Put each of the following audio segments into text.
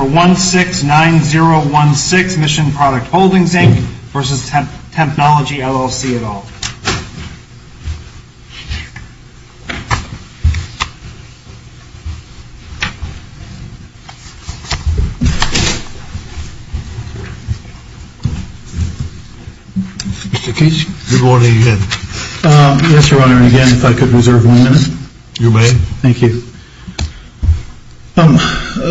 Mr. Case, good morning again. Yes, Your Honor, and again, if I could reserve one minute? You may. Thank you.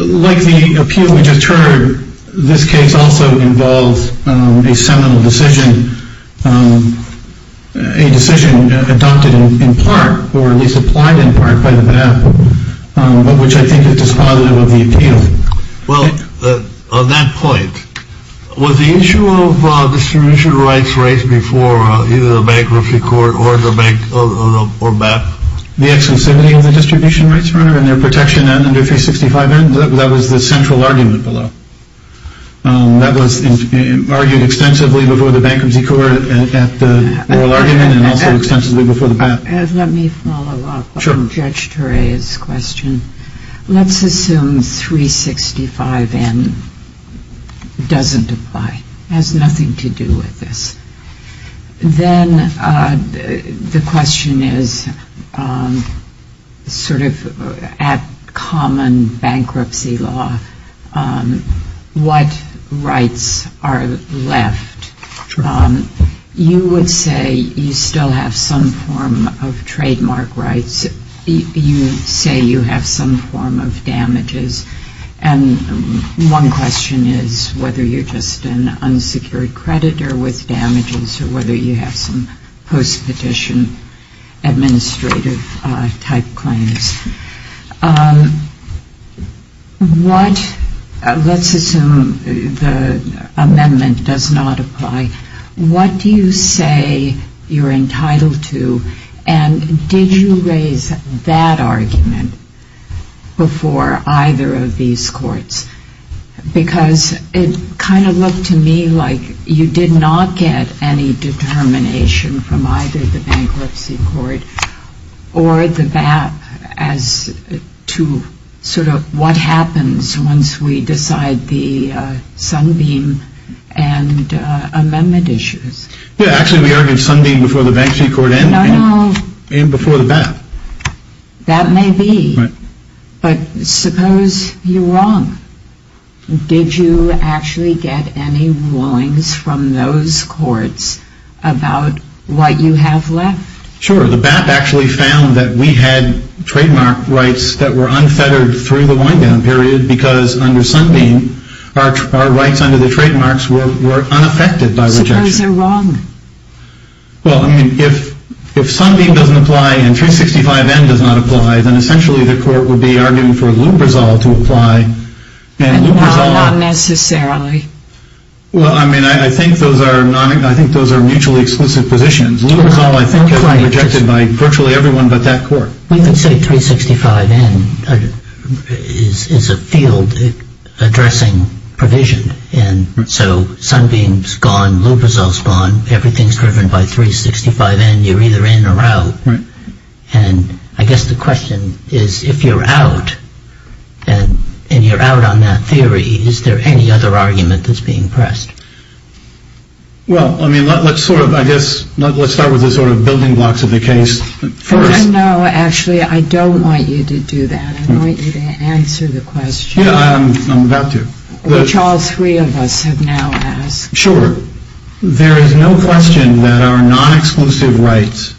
Like the appeal we just heard, this case also involves a seminal decision, a decision adopted in part, or at least applied in part, by the bank, which I think is dispositive of the appeal. Well, on that point, was the issue of distribution rights rights before either the bankruptcy court or the bank? The exclusivity of the distribution rights, Your Honor, and their protection under 365N, that was the central argument below. That was argued extensively before the bankruptcy court at the oral argument and also extensively before the bank. Let me follow up on Judge Turay's question. Let's assume 365N doesn't apply, has nothing to do with this. Then the question is, sort of at common bankruptcy law, what rights are left? You would say you still have some form of trademark rights. You say you have some form of damages. And one question is whether you're just an unsecured creditor with damages or whether you have some post-petition administrative type claims. What, let's assume the amendment does not apply, what do you say you're entitled to and did you raise that argument before either of these courts? Because it kind of looked to me like you did not get any determination from either the bankruptcy court or the BAP as to sort of what happens once we decide the Sunbeam and amendment issues. Yeah, actually we argued Sunbeam before the bankruptcy court and before the BAP. That may be, but suppose you're wrong. Did you actually get any rulings from those courts about what you have left? Sure, the BAP actually found that we had trademark rights that were unfettered through the wind-down period because under Sunbeam our rights under the trademarks were unaffected by rejection. Suppose they're wrong. Well, I mean, if Sunbeam doesn't apply and 365N does not apply, then essentially the court would be arguing for Lubrizol to apply. And not necessarily. Well, I mean, I think those are mutually exclusive positions. Lubrizol I think has been rejected by virtually everyone but that court. Well, you could say 365N is a field addressing provision. And so Sunbeam's gone, Lubrizol's gone, everything's driven by 365N, you're either in or out. And I guess the question is if you're out and you're out on that theory, is there any other argument that's being pressed? Well, I mean, let's sort of, I guess, let's start with the sort of building blocks of the case first. No, actually, I don't want you to do that. I want you to answer the question. Yeah, I'm about to. Which all three of us have now asked. Sure. There is no question that our non-exclusive rights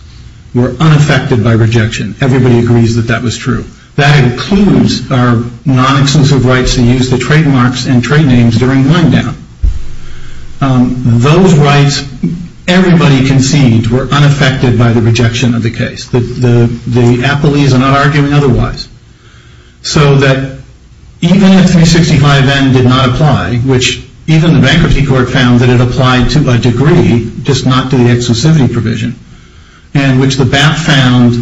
were unaffected by rejection. Everybody agrees that that was true. That includes our non-exclusive rights to use the trademarks and trade names during wind-down. Those rights, everybody conceded, were unaffected by the rejection of the case. The appellees are not arguing otherwise. So that even if 365N did not apply, which even the Bankruptcy Court found that it applied to a degree, just not to the exclusivity provision, and which the BAP found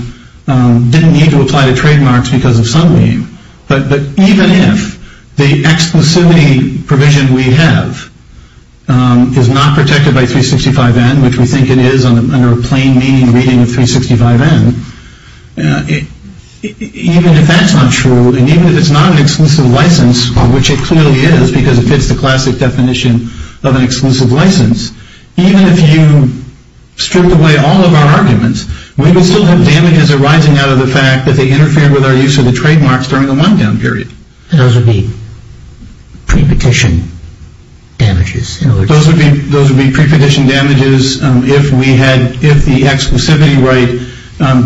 didn't need to apply to trademarks because of Sunbeam, but even if the exclusivity provision we have is not protected by 365N, which we think it is under a plain meaning reading of 365N, even if that's not true, and even if it's not an exclusive license, which it clearly is because it fits the classic definition of an exclusive license, even if you stripped away all of our arguments, we would still have damages arising out of the fact that they interfered with our use of the trademarks during the wind-down period. Those would be pre-petition damages. Those would be pre-petition damages if the exclusivity right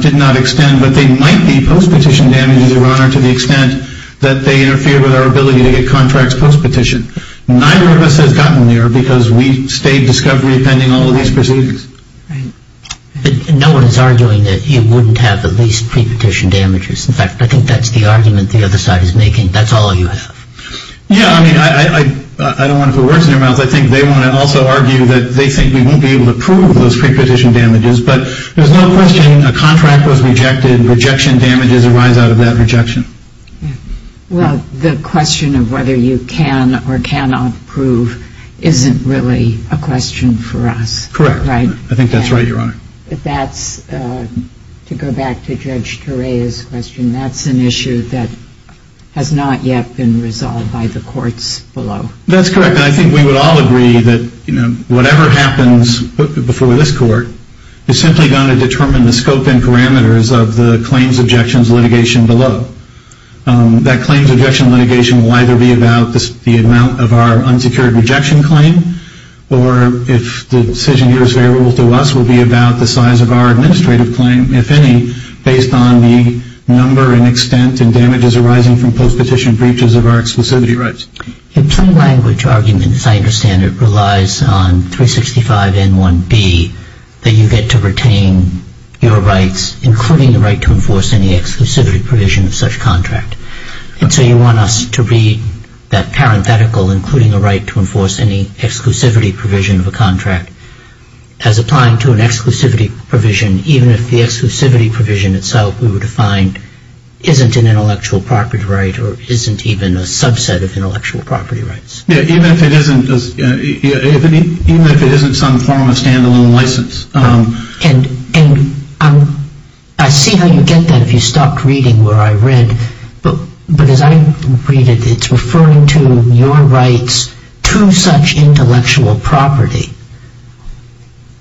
did not extend, but they might be post-petition damages, Your Honor, to the extent that they interfered with our ability to get contracts post-petition. Neither of us has gotten there because we stayed discovery pending all of these proceedings. But no one is arguing that you wouldn't have at least pre-petition damages. In fact, I think that's the argument the other side is making. That's all you have. Yeah, I mean, I don't want to put words in your mouth. I think they want to also argue that they think we won't be able to prove those pre-petition damages, but there's no question a contract was rejected and rejection damages arise out of that rejection. Well, the question of whether you can or cannot prove isn't really a question for us. Correct. I think that's right, Your Honor. But that's, to go back to Judge Torea's question, that's an issue that has not yet been resolved by the courts below. That's correct, and I think we would all agree that whatever happens before this court is simply going to determine the scope and parameters of the claims, objections, litigation below. That claims, objections, litigation will either be about the amount of our unsecured rejection claim or, if the decision here is favorable to us, will be about the size of our administrative claim, if any, based on the number and extent and damages arising from post-petition breaches of our exclusivity rights. A plain language argument, as I understand it, relies on 365N1B that you get to retain your rights, including the right to enforce any exclusivity provision of such contract. And so you want us to read that parenthetical, including the right to enforce any exclusivity provision of a contract, as applying to an exclusivity provision, even if the exclusivity provision itself, we were to find, isn't an intellectual property right or isn't even a subset of intellectual property rights. Even if it isn't some form of stand-alone license. And I see how you get that if you stopped reading where I read. But as I read it, it's referring to your rights to such intellectual property.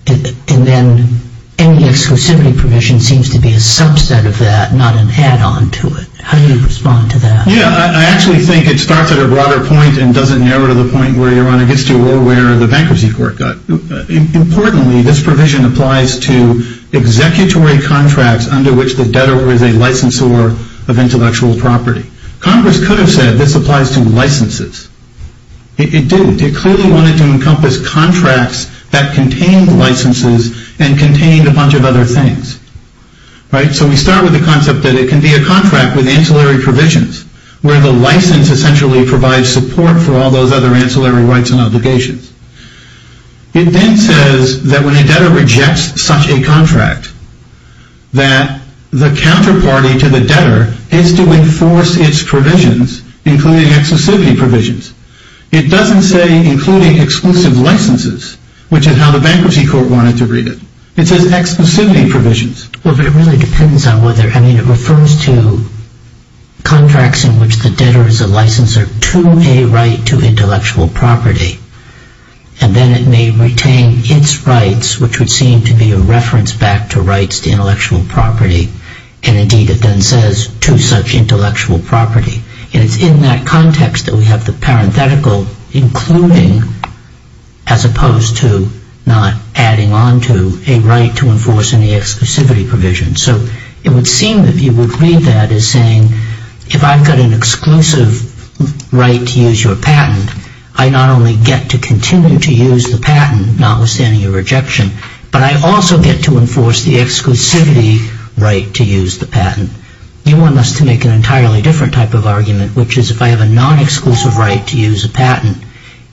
And then any exclusivity provision seems to be a subset of that, not an add-on to it. How do you respond to that? Yeah, I actually think it starts at a broader point and doesn't narrow to the point where you want to get to or where the bankruptcy court got. Importantly, this provision applies to executory contracts under which the debtor is a licensor of intellectual property. Congress could have said this applies to licenses. It didn't. It clearly wanted to encompass contracts that contained licenses and contained a bunch of other things. So we start with the concept that it can be a contract with ancillary provisions, where the license essentially provides support for all those other ancillary rights and obligations. It then says that when a debtor rejects such a contract, that the counterparty to the debtor is to enforce its provisions, including exclusivity provisions. It doesn't say including exclusive licenses, which is how the bankruptcy court wanted to read it. It says exclusivity provisions. Well, but it really depends on whether... I mean, it refers to contracts in which the debtor is a licensor to a right to intellectual property. And then it may retain its rights, which would seem to be a reference back to rights to intellectual property. And indeed, it then says to such intellectual property. And it's in that context that we have the parenthetical including, as opposed to not adding on to a right to enforce any exclusivity provision. So it would seem that you would read that as saying, if I've got an exclusive right to use your patent, I not only get to continue to use the patent, notwithstanding your rejection, but I also get to enforce the exclusivity right to use the patent. Which is if I have a non-exclusive right to use a patent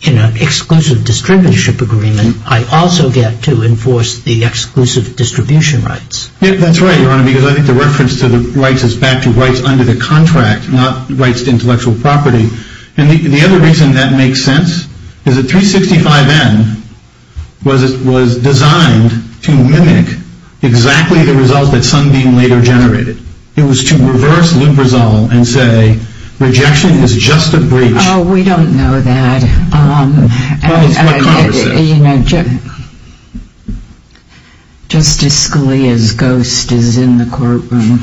in an exclusive distributorship agreement, I also get to enforce the exclusive distribution rights. That's right, Your Honor, because I think the reference to the rights is back to rights under the contract, not rights to intellectual property. And the other reason that makes sense is that 365N was designed to mimic exactly the results that Sundin later generated. It was to reverse Lou Brizal and say, rejection is just a breach. Oh, we don't know that. Justice Scalia's ghost is in the courtroom.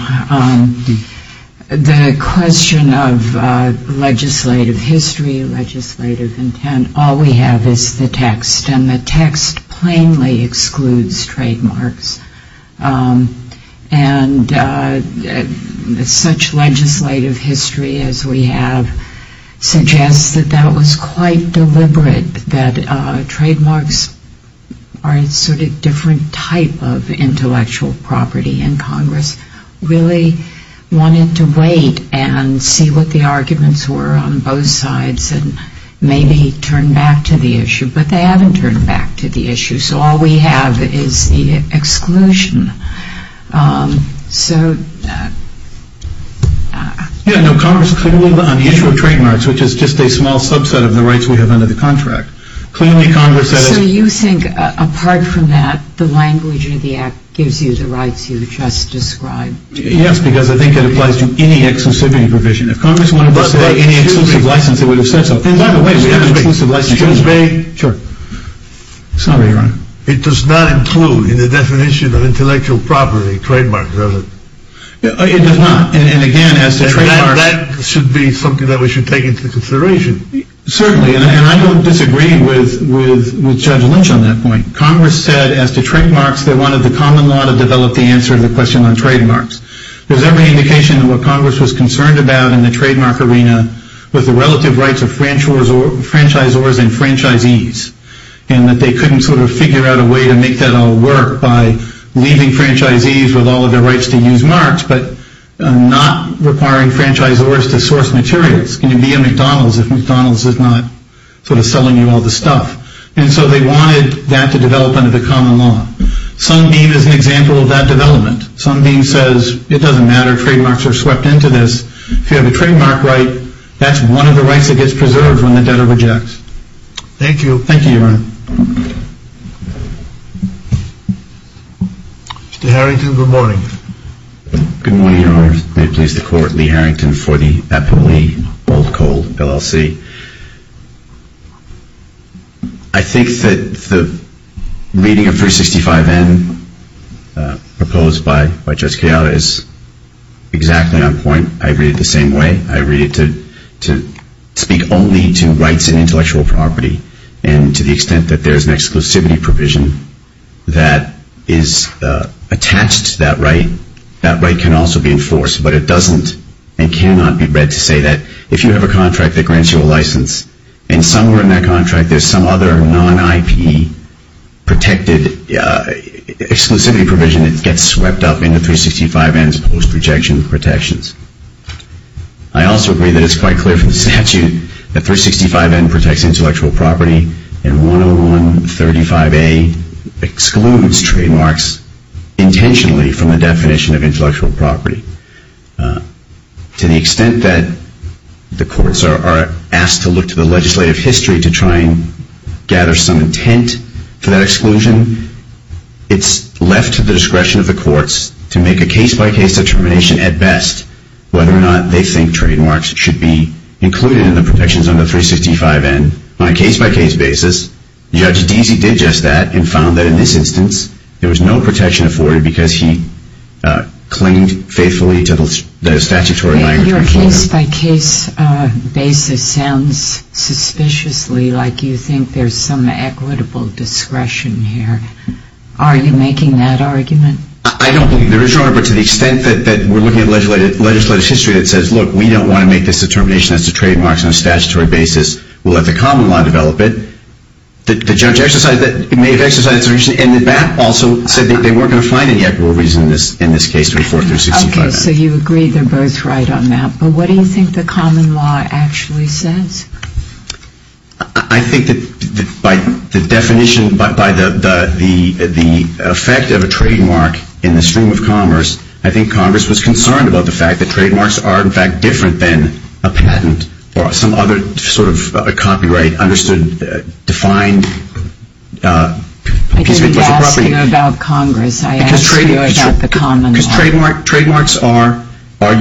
The question of legislative history, legislative intent, all we have is the text. And the text plainly excludes trademarks. And such legislative history as we have suggests that that was quite deliberate, that trademarks are a sort of different type of intellectual property. And Congress really wanted to wait and see what the arguments were on both sides and maybe turn back to the issue. But they haven't turned back to the issue. So all we have is the exclusion. Yeah, no, Congress clearly, on the issue of trademarks, which is just a small subset of the rights we have under the contract, clearly Congress says... So you think, apart from that, the language in the Act gives you the rights you just described? Yes, because I think it applies to any exclusivity provision. If Congress wanted to say any exclusive license, it would have said so. Excuse me. Sure. Sorry, Ron. It does not include in the definition of intellectual property trademarks, does it? It does not. And again, as to trademarks... That should be something that we should take into consideration. Certainly. And I don't disagree with Judge Lynch on that point. Congress said, as to trademarks, they wanted the common law to develop the answer to the question on trademarks. There's every indication of what Congress was concerned about in the trademark arena with the relative rights of franchisors and franchisees, and that they couldn't sort of figure out a way to make that all work by leaving franchisees with all of their rights to use marks but not requiring franchisors to source materials. Can you be at McDonald's if McDonald's is not sort of selling you all the stuff? And so they wanted that to develop under the common law. Sunbeam is an example of that development. Sunbeam says, it doesn't matter, trademarks are swept into this. If you have a trademark right, that's one of the rights that gets preserved when the debtor rejects. Thank you. Thank you, Your Honor. Mr. Harrington, good morning. Good morning, Your Honor. May it please the Court. Lee Harrington for the Eppley Gold Coal LLC. I think that the reading of 365N proposed by Judge Gallo is exactly on point. I read it the same way. I read it to speak only to rights and intellectual property, and to the extent that there is an exclusivity provision that is attached to that right, that right can also be enforced. But it doesn't and cannot be read to say that if you have a contract that grants you a license and somewhere in that contract there's some other non-IP protected exclusivity provision that gets swept up into 365N's post-rejection protections. I also agree that it's quite clear from the statute that 365N protects intellectual property and 10135A excludes trademarks intentionally from the definition of intellectual property. To the extent that the courts are asked to look to the legislative history to try and gather some intent for that exclusion, it's left to the discretion of the courts to make a case-by-case determination at best whether or not they think trademarks should be included in the protections under 365N on a case-by-case basis. Judge Deasy did just that and found that in this instance there was no protection afforded because he clinged faithfully to the statutory... Your case-by-case basis sounds suspiciously like you think there's some equitable discretion here. Are you making that argument? I don't think there is, Your Honor, but to the extent that we're looking at legislative history that says, look, we don't want to make this determination as to trademarks on a statutory basis, we'll let the common law develop it. The judge may have exercised his decision, and the BAP also said that they weren't going to find any equitable reason in this case to afford 365N. Okay, so you agree they're both right on that. But what do you think the common law actually says? I think that by the definition, by the effect of a trademark in the stream of commerce, I think Congress was concerned about the fact that trademarks are, in fact, different than a patent or some other sort of copyright-understood, defined... I didn't ask you about Congress. I asked you about the common law. Because trademarks are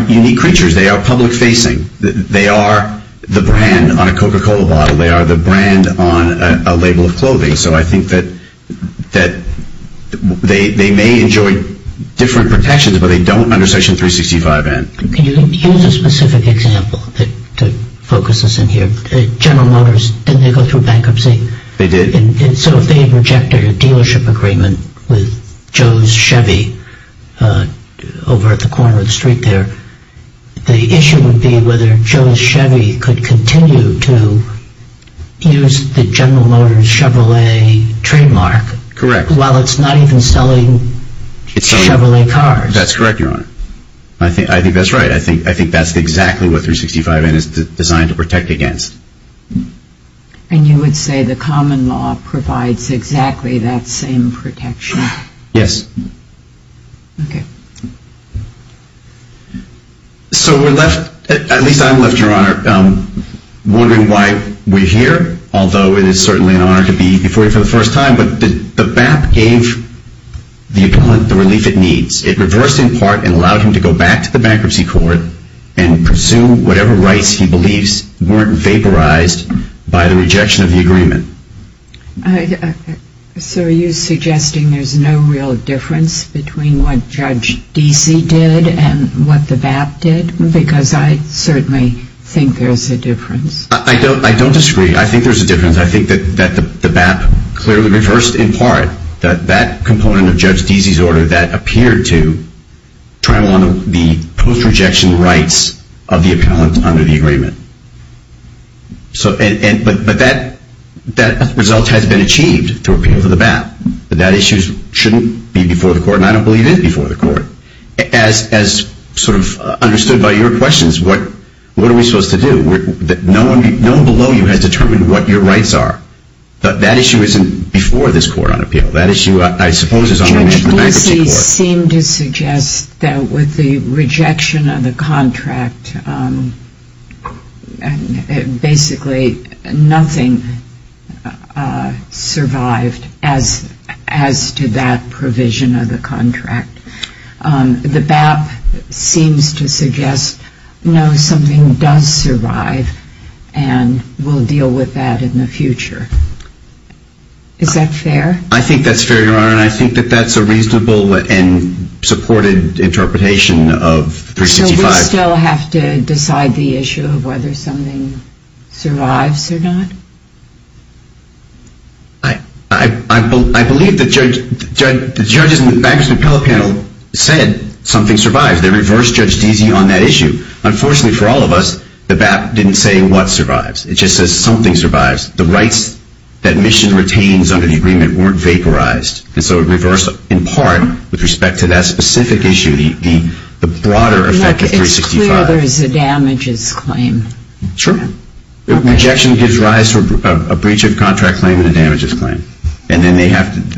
unique creatures. They are public-facing. They are the brand on a Coca-Cola bottle. They are the brand on a label of clothing. So I think that they may enjoy different protections, but they don't under Section 365N. Can you use a specific example to focus us in here? General Motors, didn't they go through bankruptcy? They did. So if they had rejected a dealership agreement with Joe's Chevy over at the corner of the street there, the issue would be whether Joe's Chevy could continue to use the General Motors Chevrolet trademark... Correct. ...while it's not even selling Chevrolet cars. That's correct, Your Honor. I think that's right. I think that's exactly what 365N is designed to protect against. And you would say the common law provides exactly that same protection? Yes. Okay. So we're left, at least I'm left, Your Honor, wondering why we're here, although it is certainly an honor to be before you for the first time. But the BAP gave the appellant the relief it needs. It reversed in part and allowed him to go back to the bankruptcy court and presume whatever rights he believes weren't vaporized by the rejection of the agreement. So are you suggesting there's no real difference between what Judge Deasy did and what the BAP did? Because I certainly think there's a difference. I don't disagree. I think there's a difference. I think that the BAP clearly reversed in part that component of Judge Deasy's order that appeared to trample on the post-rejection rights of the appellant under the agreement. But that result has been achieved through appeal for the BAP. That issue shouldn't be before the court, and I don't believe it is before the court. As sort of understood by your questions, what are we supposed to do? No one below you has determined what your rights are. That issue isn't before this court on appeal. Judge Deasy seemed to suggest that with the rejection of the contract, basically nothing survived as to that provision of the contract. The BAP seems to suggest, no, something does survive, and we'll deal with that in the future. Is that fair? I think that's fair, Your Honor, and I think that that's a reasonable and supported interpretation of 365. So we still have to decide the issue of whether something survives or not? I believe the judges in the Bankers and Appellate Panel said something survives. They reversed Judge Deasy on that issue. Unfortunately for all of us, the BAP didn't say what survives. It just says something survives. The rights that mission retains under the agreement weren't vaporized, and so it reversed, in part, with respect to that specific issue, the broader effect of 365. Look, it's clear there's a damages claim. Sure. Rejection gives rise to a breach of contract claim and a damages claim, and then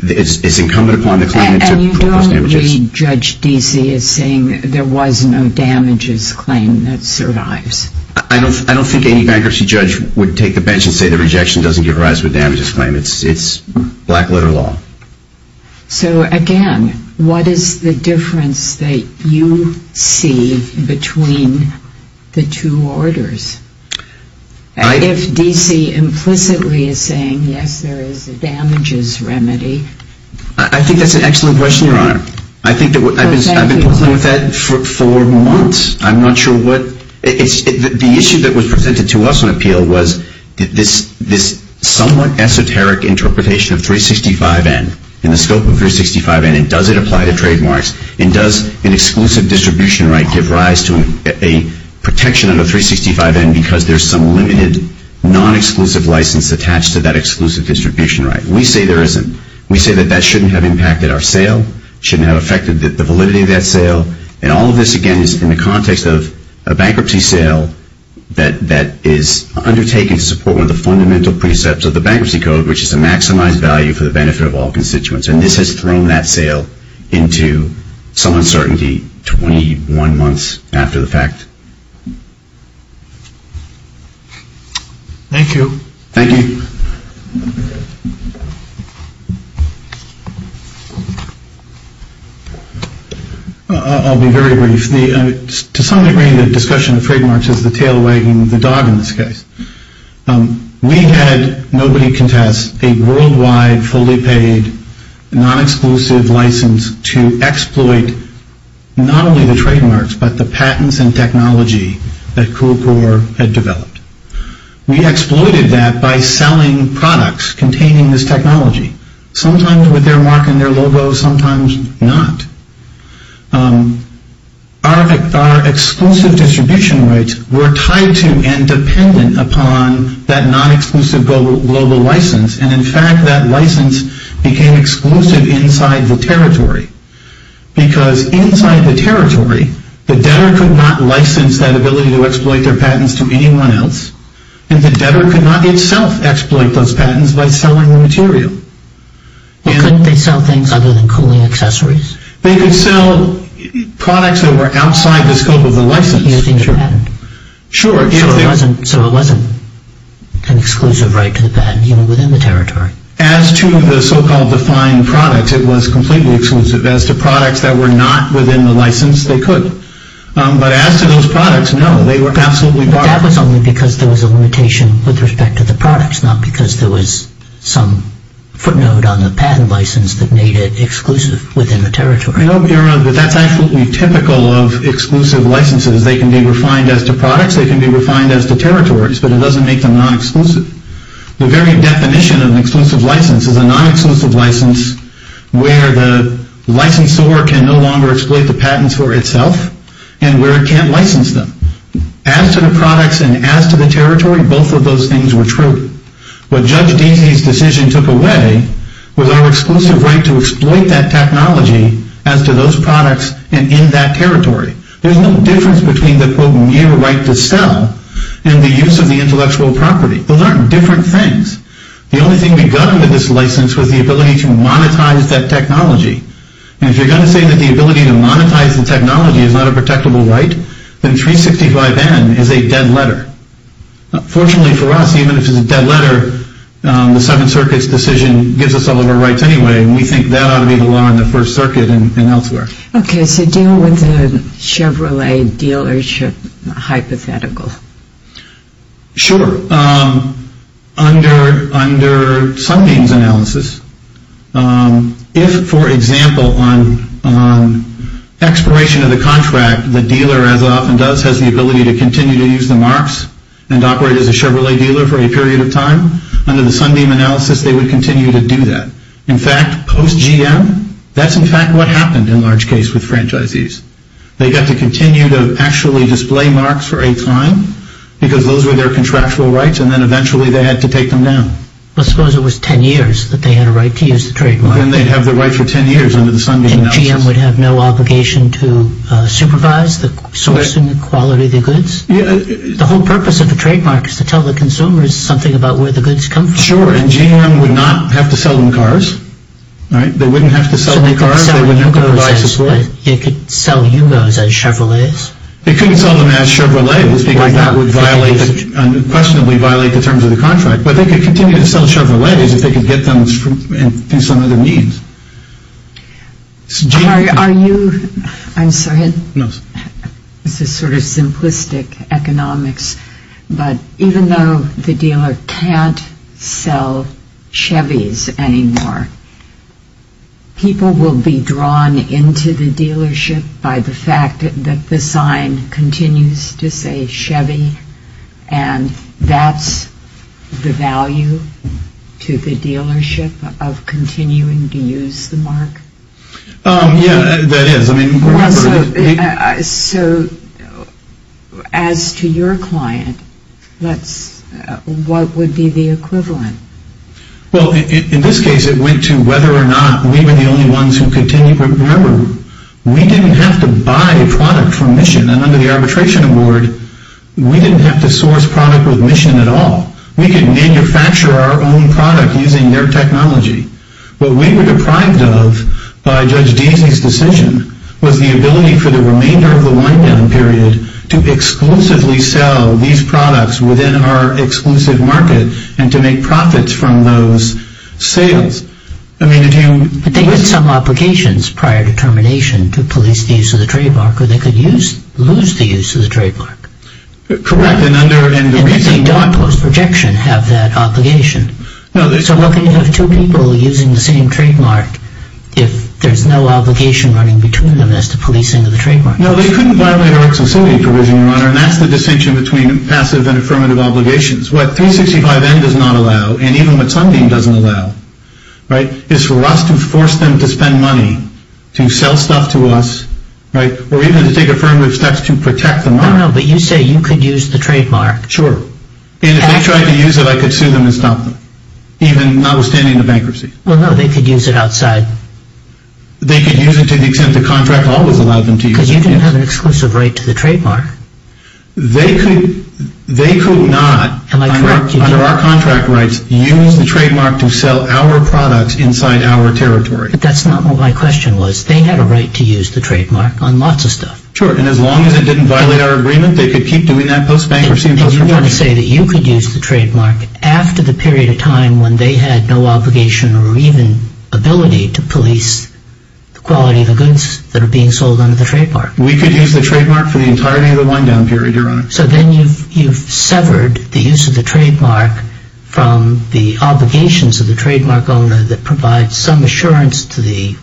it's incumbent upon the claimant to prove those damages. And you don't read Judge Deasy as saying there was no damages claim that survives? I don't think any bankruptcy judge would take the bench and say that rejection doesn't give rise to a damages claim. It's black-letter law. So, again, what is the difference that you see between the two orders? If Deasy implicitly is saying, yes, there is a damages remedy? I think that's an excellent question, Your Honor. I've been puzzled with that for months. The issue that was presented to us on appeal was this somewhat esoteric interpretation of 365N, and the scope of 365N, and does it apply to trademarks, and does an exclusive distribution right give rise to a protection under 365N because there's some limited non-exclusive license attached to that exclusive distribution right? We say there isn't. We say that that shouldn't have impacted our sale, shouldn't have affected the validity of that sale. And all of this, again, is in the context of a bankruptcy sale that is undertaken to support one of the fundamental precepts of the Bankruptcy Code, which is to maximize value for the benefit of all constituents. And this has thrown that sale into some uncertainty 21 months after the fact. Thank you. Thank you. Thank you. I'll be very brief. To some degree, the discussion of trademarks is the tail wagging the dog in this case. We had, nobody can test, a worldwide, fully paid, non-exclusive license to exploit not only the trademarks, but the patents and technology that CoolCor had developed. We exploited that by selling products containing this technology. Sometimes with their mark and their logo, sometimes not. Our exclusive distribution rights were tied to and dependent upon that non-exclusive global license. And in fact, that license became exclusive inside the territory. Because inside the territory, the debtor could not license that ability to exploit their patents to anyone else, and the debtor could not itself exploit those patents by selling the material. Couldn't they sell things other than cooling accessories? They could sell products that were outside the scope of the license. So it wasn't an exclusive right to the patent, even within the territory? As to the so-called defined products, it was completely exclusive. As to products that were not within the license, they could. But as to those products, no, they were absolutely barred. That was only because there was a limitation with respect to the products, not because there was some footnote on the patent license that made it exclusive within the territory. No, but that's absolutely typical of exclusive licenses. They can be refined as to products, they can be refined as to territories, but it doesn't make them non-exclusive. The very definition of an exclusive license is a non-exclusive license where the licensor can no longer exploit the patents for itself, and where it can't license them. As to the products and as to the territory, both of those things were true. What Judge Deasy's decision took away was our exclusive right to exploit that technology as to those products and in that territory. There's no difference between the, quote, mere right to sell and the use of the intellectual property. Those aren't different things. The only thing we got with this license was the ability to monetize that technology. And if you're going to say that the ability to monetize the technology is not a protectable right, then 365N is a dead letter. Fortunately for us, even if it's a dead letter, the Seventh Circuit's decision gives us all of our rights anyway, and we think that ought to be the law in the First Circuit and elsewhere. Okay, so deal with the Chevrolet dealership hypothetical. Sure. Under Sunbeam's analysis, if, for example, on expiration of the contract, the dealer, as it often does, has the ability to continue to use the marks and operate as a Chevrolet dealer for a period of time, under the Sunbeam analysis they would continue to do that. In fact, post GM, that's in fact what happened in large case with franchisees. They got to continue to actually display marks for a time because those were their contractual rights, and then eventually they had to take them down. Well, suppose it was ten years that they had a right to use the trademark. Then they'd have the right for ten years under the Sunbeam analysis. And GM would have no obligation to supervise the source and quality of the goods? The whole purpose of the trademark is to tell the consumers something about where the goods come from. Sure, and GM would not have to sell them cars. They wouldn't have to sell the cars. It could sell UGOs as Chevrolets. It couldn't sell them as Chevrolets because that would violate, unquestionably violate the terms of the contract. But they could continue to sell Chevrolets if they could get them through some other means. Are you, I'm sorry, this is sort of simplistic economics, but even though the dealer can't sell Chevys anymore, people will be drawn into the dealership by the fact that the sign continues to say Chevy, and that's the value to the dealership of continuing to use the mark? Yeah, that is. So as to your client, what would be the equivalent? Well, in this case it went to whether or not we were the only ones who continued. Remember, we didn't have to buy a product from Mission. And under the arbitration award, we didn't have to source product with Mission at all. We could manufacture our own product using their technology. What we were deprived of by Judge Deasy's decision was the ability for the remainder of the wind-down period to exclusively sell these products within our exclusive market and to make profits from those sales. I mean, if you... But they had some obligations prior to termination to police the use of the trademark, or they could lose the use of the trademark. Correct, and under... And did they not, post-projection, have that obligation? No, they... So what can you have two people using the same trademark if there's no obligation running between them as to policing of the trademark? No, they couldn't violate our exclusivity provision, Your Honor, and that's the distinction between passive and affirmative obligations. What 365N does not allow, and even what Sunbeam doesn't allow, right, is for us to force them to spend money to sell stuff to us, right, or even to take affirmative steps to protect the mark. No, no, but you say you could use the trademark. Sure. And if they tried to use it, I could sue them and stop them, even notwithstanding the bankruptcy. Well, no, they could use it outside. They could use it to the extent the contract always allowed them to use it, yes. Because you didn't have an exclusive right to the trademark. They could not, under our contract rights, use the trademark to sell our products inside our territory. But that's not what my question was. They had a right to use the trademark on lots of stuff. Sure, and as long as it didn't violate our agreement, they could keep doing that post-bankruptcy and post-rebranch. And you want to say that you could use the trademark after the period of time when they had no obligation or even ability to police the quality of the goods that are being sold under the trademark. We could use the trademark for the entirety of the wind-down period, Your Honor. So then you've severed the use of the trademark from the obligations of the trademark owner that provides some assurance to the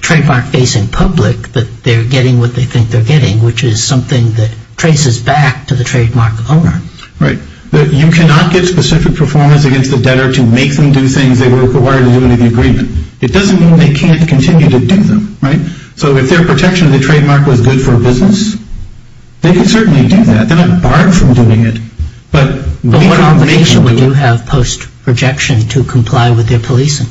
trademark-facing public that they're getting what they think they're getting, which is something that traces back to the trademark owner. Right. You cannot get specific performance against the debtor to make them do things they were required to do under the agreement. It doesn't mean they can't continue to do them, right? So if their protection of the trademark was good for a business, they could certainly do that. They're not barred from doing it. But what obligation would you have post-rejection to comply with their policing?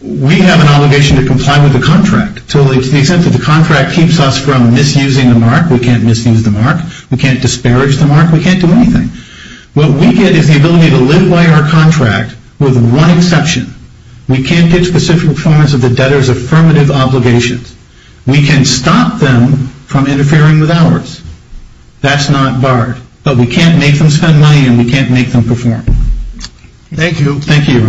We have an obligation to comply with the contract to the extent that the contract keeps us from misusing the mark. We can't misuse the mark. We can't disparage the mark. We can't do anything. What we get is the ability to live by our contract with one exception. We can't get specific performance of the debtor's affirmative obligations. We can stop them from interfering with ours. That's not barred. But we can't make them spend money and we can't make them perform. Thank you. Thank you, Your Honor. Thank you.